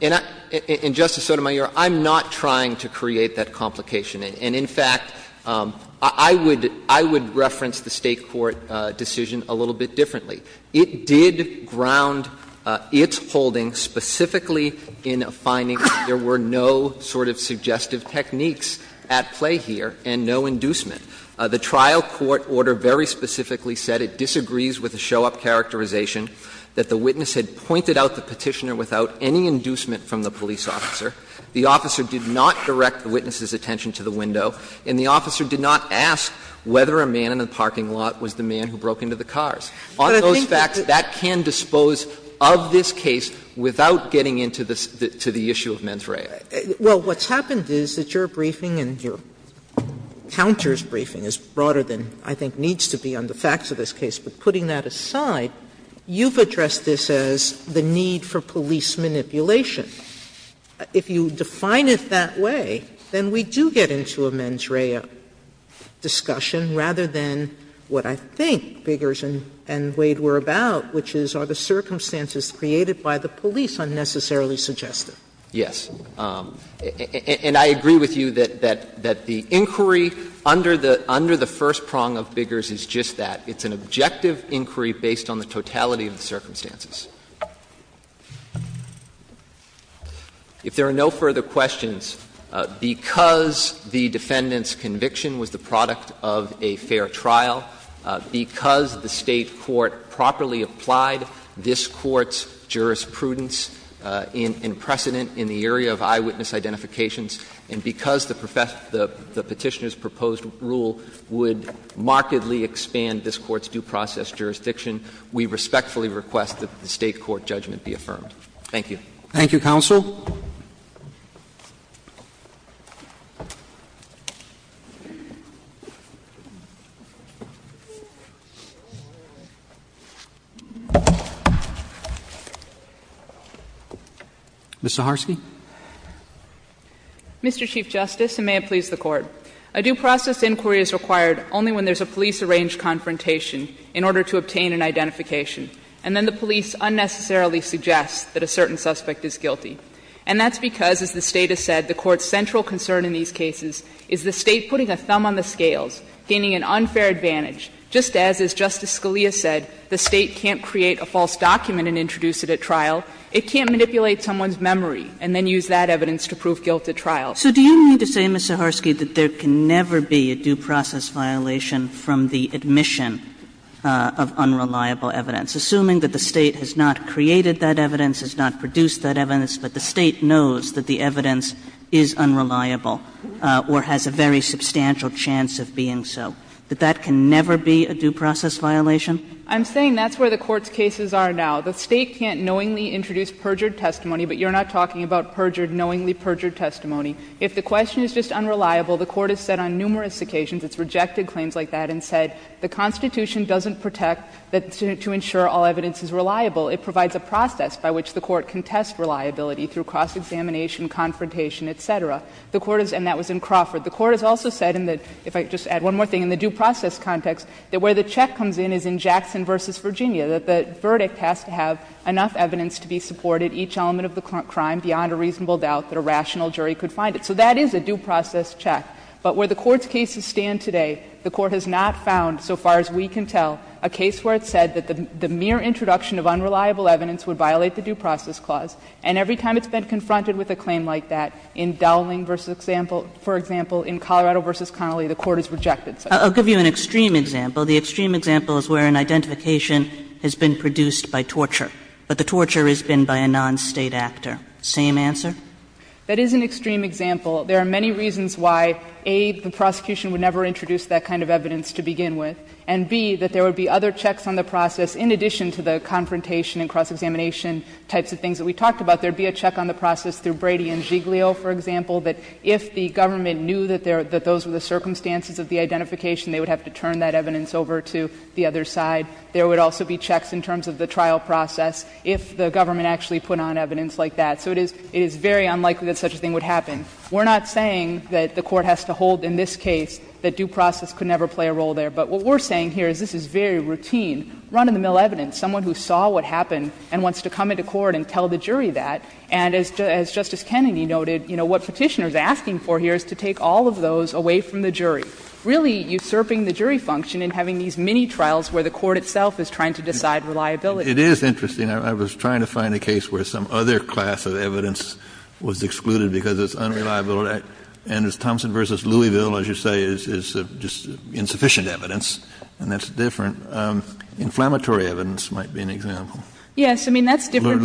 And I — and, Justice Sotomayor, I'm not trying to create that complication. And in fact, I would reference the State court decision a little bit differently. It did ground its holding specifically in a finding that there were no sort of suggestive techniques at play here and no inducement. The trial court order very specifically said it disagrees with the show-up characterization that the witness had pointed out the Petitioner without any inducement from the police officer. The officer did not direct the witness's attention to the window, and the officer did not ask whether a man in the parking lot was the man who broke into the cars. On those facts, that can dispose of this case without getting into the issue of mens rea. Sotomayor, what's happened is that your briefing and your counter's briefing is broader than I think needs to be on the facts of this case. But putting that aside, you've addressed this as the need for police manipulation. If you define it that way, then we do get into a mens rea discussion rather than what I think Biggers and Wade were about, which is are the circumstances created by the police unnecessarily suggestive? Yes. And I agree with you that the inquiry under the first prong of Biggers is just that. It's an objective inquiry based on the totality of the circumstances. If there are no further questions, because the defendant's conviction was the product of a fair trial, because the State court properly applied this Court's jurisprudence in precedent in the area of eyewitness identifications, and because the Petitioner's proposed rule would markedly expand this Court's due process jurisdiction, we respectfully request that the State court judgment be affirmed. Thank you. Thank you, counsel. Ms. Zaharsky. Mr. Chief Justice, and may it please the Court. A due process inquiry is required only when there's a police-arranged confrontation in order to obtain an identification, and then the police unnecessarily suggest that a certain suspect is guilty. And that's because, as the State has said, the Court's central concern in these cases is the State putting a thumb on the scales, gaining an unfair advantage, just as, as Justice Scalia said, the State can't create a false document and introduce it at trial. It can't manipulate someone's memory and then use that evidence to prove guilt at trial. So do you mean to say, Ms. Zaharsky, that there can never be a due process violation from the admission of unreliable evidence, assuming that the State has not created that evidence, has not produced that evidence, but the State knows that the evidence is unreliable or has a very substantial chance of being so, that that can never be a due process violation? I'm saying that's where the Court's cases are now. The State can't knowingly introduce perjured testimony, but you're not talking about perjured, knowingly perjured testimony. If the question is just unreliable, the Court has said on numerous occasions, it's rejected claims like that, and said the Constitution doesn't protect to ensure all evidence is reliable. It provides a process by which the Court can test reliability through cross-examination, confrontation, et cetera. The Court has — and that was in Crawford. The Court has also said in the — if I could just add one more thing — in the due process context, that where the check comes in is in Jackson v. Virginia, that the verdict has to have enough evidence to be supported, each element of the crime, beyond a reasonable doubt that a rational jury could find it. So that is a due process check. But where the Court's cases stand today, the Court has not found, so far as we can tell, a case where it said that the mere introduction of unreliable evidence would violate the due process clause. And every time it's been confronted with a claim like that, in Dowling v. Example — for example, in Colorado v. Connolly, the Court has rejected such a claim. Kagan. Kagan. I'll give you an extreme example. The extreme example is where an identification has been produced by torture, but the torture has been by a non-State actor. Same answer? That is an extreme example. There are many reasons why, A, the prosecution would never introduce that kind of evidence to begin with, and, B, that there would be other checks on the process in addition to the confrontation and cross-examination types of things that we talked about. There would be a check on the process through Brady v. Giglio, for example, that if the government knew that those were the circumstances of the identification, they would have to turn that evidence over to the other side. There would also be checks in terms of the trial process if the government actually put on evidence like that. So it is very unlikely that such a thing would happen. We're not saying that the Court has to hold in this case that due process could never play a role there, but what we're saying here is this is very routine, run-of-the-mill evidence. Someone who saw what happened and wants to come into court and tell the jury that. And as Justice Kennedy noted, you know, what Petitioner's asking for here is to take all of those away from the jury, really usurping the jury function and having these mini-trials where the Court itself is trying to decide reliability. Kennedy, it is interesting. I was trying to find a case where some other class of evidence was excluded because it's unreliable, and it's Thompson v. Louisville, as you say, is just insufficient evidence, and that's different. Inflammatory evidence might be an example. Yes. I mean, that's different.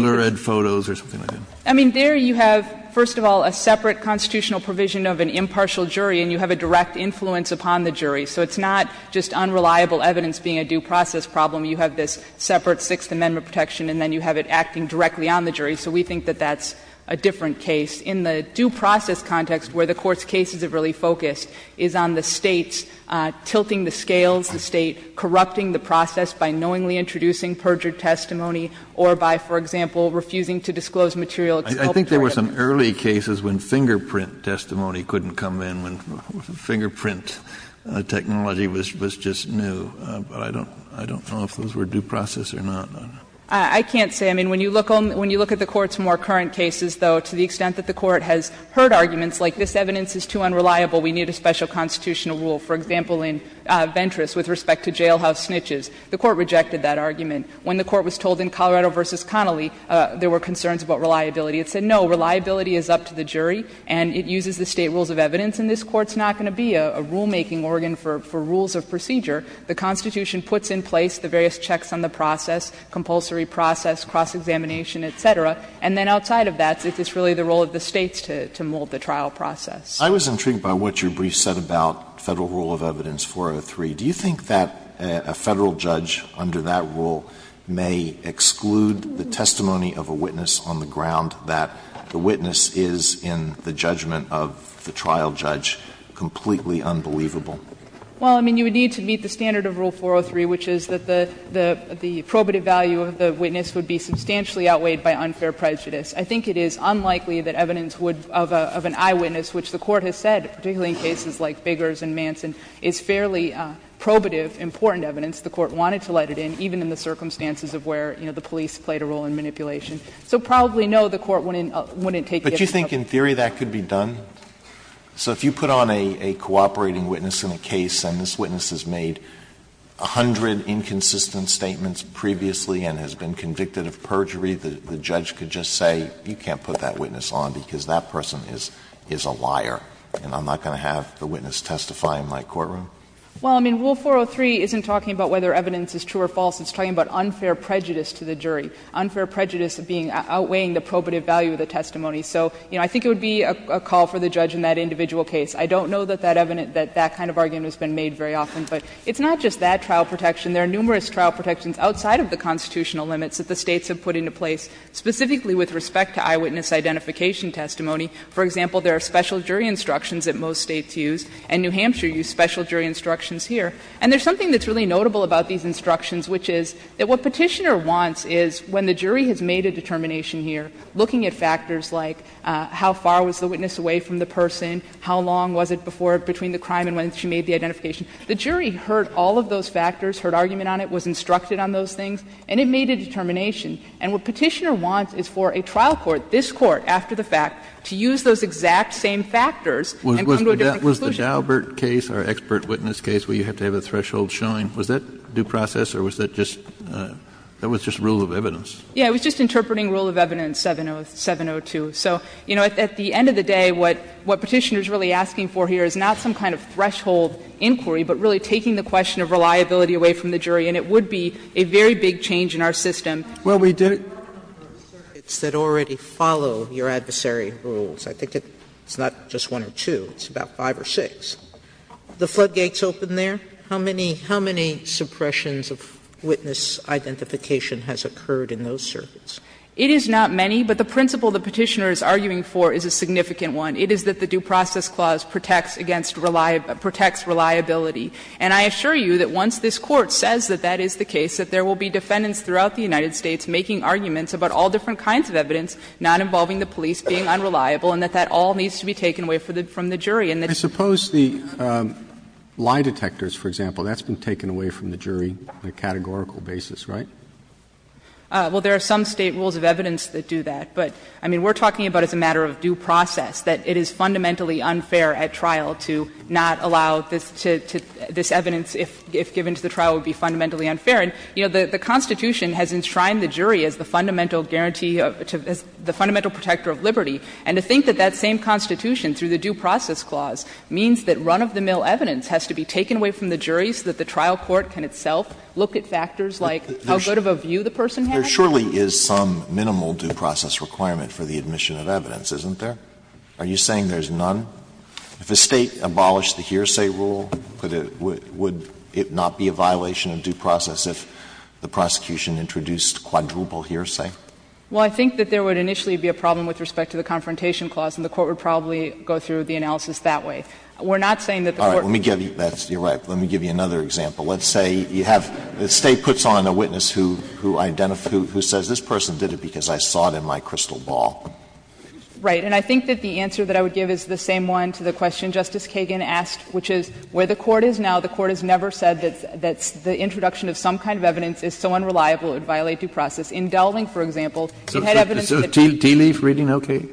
I mean, there you have, first of all, a separate constitutional provision of an impartial jury, and you have a direct influence upon the jury, so it's not just unreliable evidence being a due process problem. You have this separate Sixth Amendment protection, and then you have it acting directly on the jury. So we think that that's a different case. In the due process context, where the Court's cases are really focused, is on the States tilting the scales, the State corrupting the process by knowingly introducing perjured testimony or by, for example, refusing to disclose material exculpatory evidence. Kennedy, I think there were some early cases when fingerprint testimony couldn't come in, when fingerprint technology was just new, but I don't know if those were due process or not. I can't say. I mean, when you look at the Court's more current cases, though, to the extent that the Court has heard arguments like this evidence is too unreliable, we need a special constitutional rule, for example, in Ventris with respect to jailhouse snitches. The Court rejected that argument. When the Court was told in Colorado v. Connolly there were concerns about reliability, it said no, reliability is up to the jury and it uses the State rules of evidence and this Court's not going to be a rulemaking organ for rules of procedure. The Constitution puts in place the various checks on the process, compulsory process, cross-examination, et cetera, and then outside of that, it's really the role of the States to mold the trial process. Alito I was intrigued by what your brief said about Federal rule of evidence 403. Do you think that a Federal judge under that rule may exclude the testimony of a witness on the ground that the witness is in the judgment of the trial judge completely unbelievable? Well, I mean, you would need to meet the standard of rule 403, which is that the probative value of the witness would be substantially outweighed by unfair prejudice. I think it is unlikely that evidence would of an eyewitness, which the Court has said, particularly in cases like Biggers and Manson, is fairly probative, important evidence. The Court wanted to let it in, even in the circumstances of where, you know, the police played a role in manipulation. So probably, no, the Court wouldn't take it. But do you think in theory that could be done? So if you put on a cooperating witness in a case and this witness has made 100 inconsistent statements previously and has been convicted of perjury, the judge could just say, you can't put that witness on because that person is a liar. And I'm not going to have the witness testify in my courtroom? Well, I mean, rule 403 isn't talking about whether evidence is true or false. It's talking about unfair prejudice to the jury, unfair prejudice being — outweighing the probative value of the testimony. So, you know, I think it would be a call for the judge in that individual case. I don't know that that evidence — that that kind of argument has been made very often. But it's not just that trial protection. There are numerous trial protections outside of the constitutional limits that the States have put into place, specifically with respect to eyewitness identification testimony. For example, there are special jury instructions that most States use, and New Hampshire used special jury instructions here. And there's something that's really notable about these instructions, which is that what Petitioner wants is when the jury has made a determination here, looking at factors like how far was the witness away from the person, how long was it before — between the crime and when she made the identification, the jury heard all of those factors, heard argument on it, was instructed on those things, and it made a determination. And what Petitioner wants is for a trial court, this Court after the fact, to use those exact same factors and come to a different conclusion. Kennedy, was the Daubert case, our expert witness case, where you have to have a threshold shine, was that due process or was that just — that was just rule of evidence? Yeah, it was just interpreting rule of evidence 702. So, you know, at the end of the day, what Petitioner is really asking for here is not some kind of threshold inquiry, but really taking the question of reliability away from the jury. And it would be a very big change in our system. Well, we do — How many circuits that already follow your adversary rules? I think it's not just one or two, it's about five or six. The floodgates open there? How many — how many suppressions of witness identification has occurred in those circuits? It is not many, but the principle that Petitioner is arguing for is a significant one. It is that the due process clause protects against — protects reliability. And I assure you that once this Court says that that is the case, that there will be defendants throughout the United States making arguments about all different kinds of evidence not involving the police, being unreliable, and that that all needs to be taken away from the jury. I suppose the lie detectors, for example, that's been taken away from the jury on a categorical basis, right? Well, there are some State rules of evidence that do that, but, I mean, we're talking about as a matter of due process that it is fundamentally unfair at trial to not allow this evidence if given to the trial would be fundamentally unfair. And, you know, the Constitution has enshrined the jury as the fundamental guarantee of — as the fundamental protector of liberty. And to think that that same Constitution, through the due process clause, means that run-of-the-mill evidence has to be taken away from the jury so that the trial court can itself look at factors like how good of a view the person has. There surely is some minimal due process requirement for the admission of evidence, isn't there? Are you saying there's none? If the State abolished the hearsay rule, would it not be a violation of due process if the prosecution introduced quadruple hearsay? Well, I think that there would initially be a problem with respect to the confrontation clause, and the Court would probably go through the analysis that way. We're not saying that the Court — All right. Let me give you — you're right. Let me give you another example. Let's say you have — the State puts on a witness who identifies — who says, this person did it because I saw it in my crystal ball. Right. And I think that the answer that I would give is the same one to the question Justice Kagan asked, which is where the Court is now, the Court has never said that the introduction of some kind of evidence is so unreliable it would violate due process. In Dowling, for example, you had evidence that — Tealeaf reading, okay.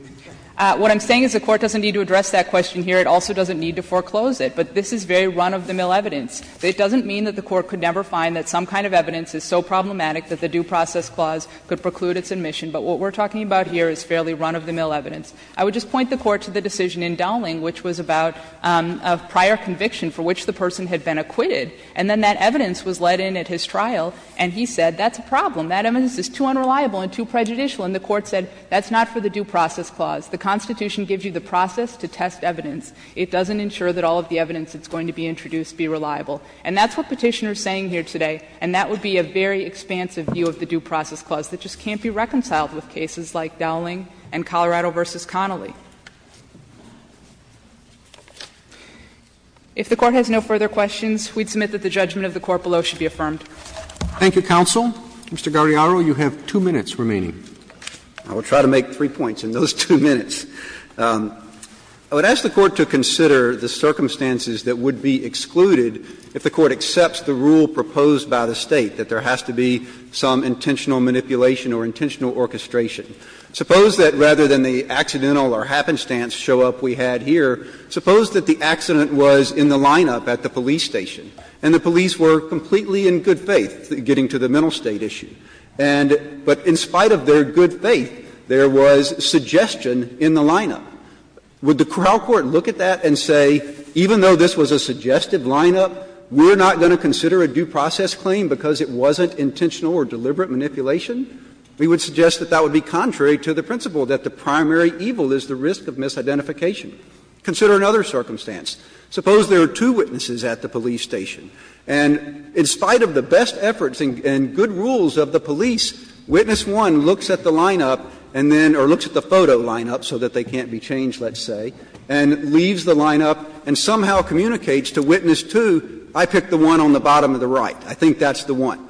What I'm saying is the Court doesn't need to address that question here. It also doesn't need to foreclose it. But this is very run-of-the-mill evidence. It doesn't mean that the Court could never find that some kind of evidence is so problematic that the due process clause could preclude its admission. But what we're talking about here is fairly run-of-the-mill evidence. I would just point the Court to the decision in Dowling, which was about a prior conviction for which the person had been acquitted. And then that evidence was let in at his trial, and he said, that's a problem. That evidence is too unreliable and too prejudicial. And the Court said, that's not for the due process clause. The Constitution gives you the process to test evidence. It doesn't ensure that all of the evidence that's going to be introduced be reliable. And that's what Petitioner is saying here today. And that would be a very expansive view of the due process clause. It just can't be reconciled with cases like Dowling and Colorado v. Connolly. If the Court has no further questions, we'd submit that the judgment of the Court below should be affirmed. Roberts. Thank you, counsel. Mr. Guardiaro, you have two minutes remaining. I will try to make three points in those two minutes. I would ask the Court to consider the circumstances that would be excluded if the Court accepts the rule proposed by the State, that there has to be some intentional manipulation or intentional orchestration. Suppose that rather than the accidental or happenstance show-up we had here, suppose that the accident was in the lineup at the police station, and the police were completely in good faith getting to the mental state issue, and but in spite of their good faith, there was suggestion in the lineup. Would the trial court look at that and say, even though this was a suggestive lineup, we're not going to consider a due process claim because it wasn't intentional or deliberate manipulation? We would suggest that that would be contrary to the principle that the primary evil is the risk of misidentification. Consider another circumstance. Suppose there are two witnesses at the police station, and in spite of the best efforts and good rules of the police, witness one looks at the lineup and then or looks at the photo lineup so that they can't be changed, let's say, and leaves the lineup and somehow communicates to witness two, I picked the one on the bottom of the right. I think that's the one.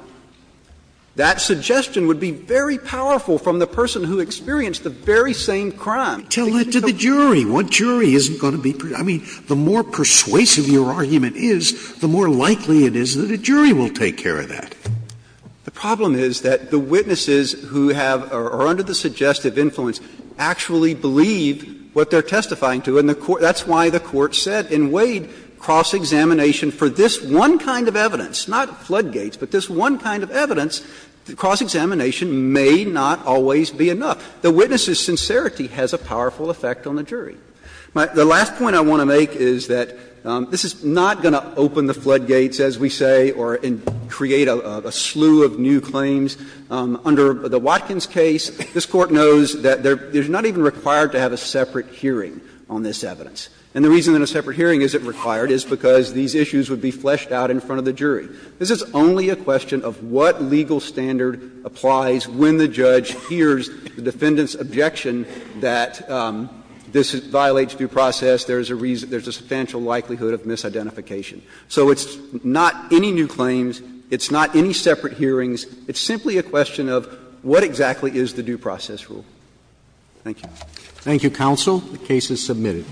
That suggestion would be very powerful from the person who experienced the very same crime. Scalia Tell it to the jury. What jury isn't going to be proud? I mean, the more persuasive your argument is, the more likely it is that a jury will take care of that. The problem is that the witnesses who have or are under the suggestive influence actually believe what they're testifying to, and the Court that's why the Court has said in Wade cross-examination for this one kind of evidence, not floodgates, but this one kind of evidence, cross-examination may not always be enough. The witness's sincerity has a powerful effect on the jury. The last point I want to make is that this is not going to open the floodgates, as we say, or create a slew of new claims. Under the Watkins case, this Court knows that there's not even required to have a separate hearing on this evidence. And the reason that a separate hearing isn't required is because these issues would be fleshed out in front of the jury. This is only a question of what legal standard applies when the judge hears the defendant's objection that this violates due process, there's a substantial likelihood of misidentification. So it's not any new claims, it's not any separate hearings, it's simply a question Thank you. Roberts. Thank you, counsel. The case is submitted.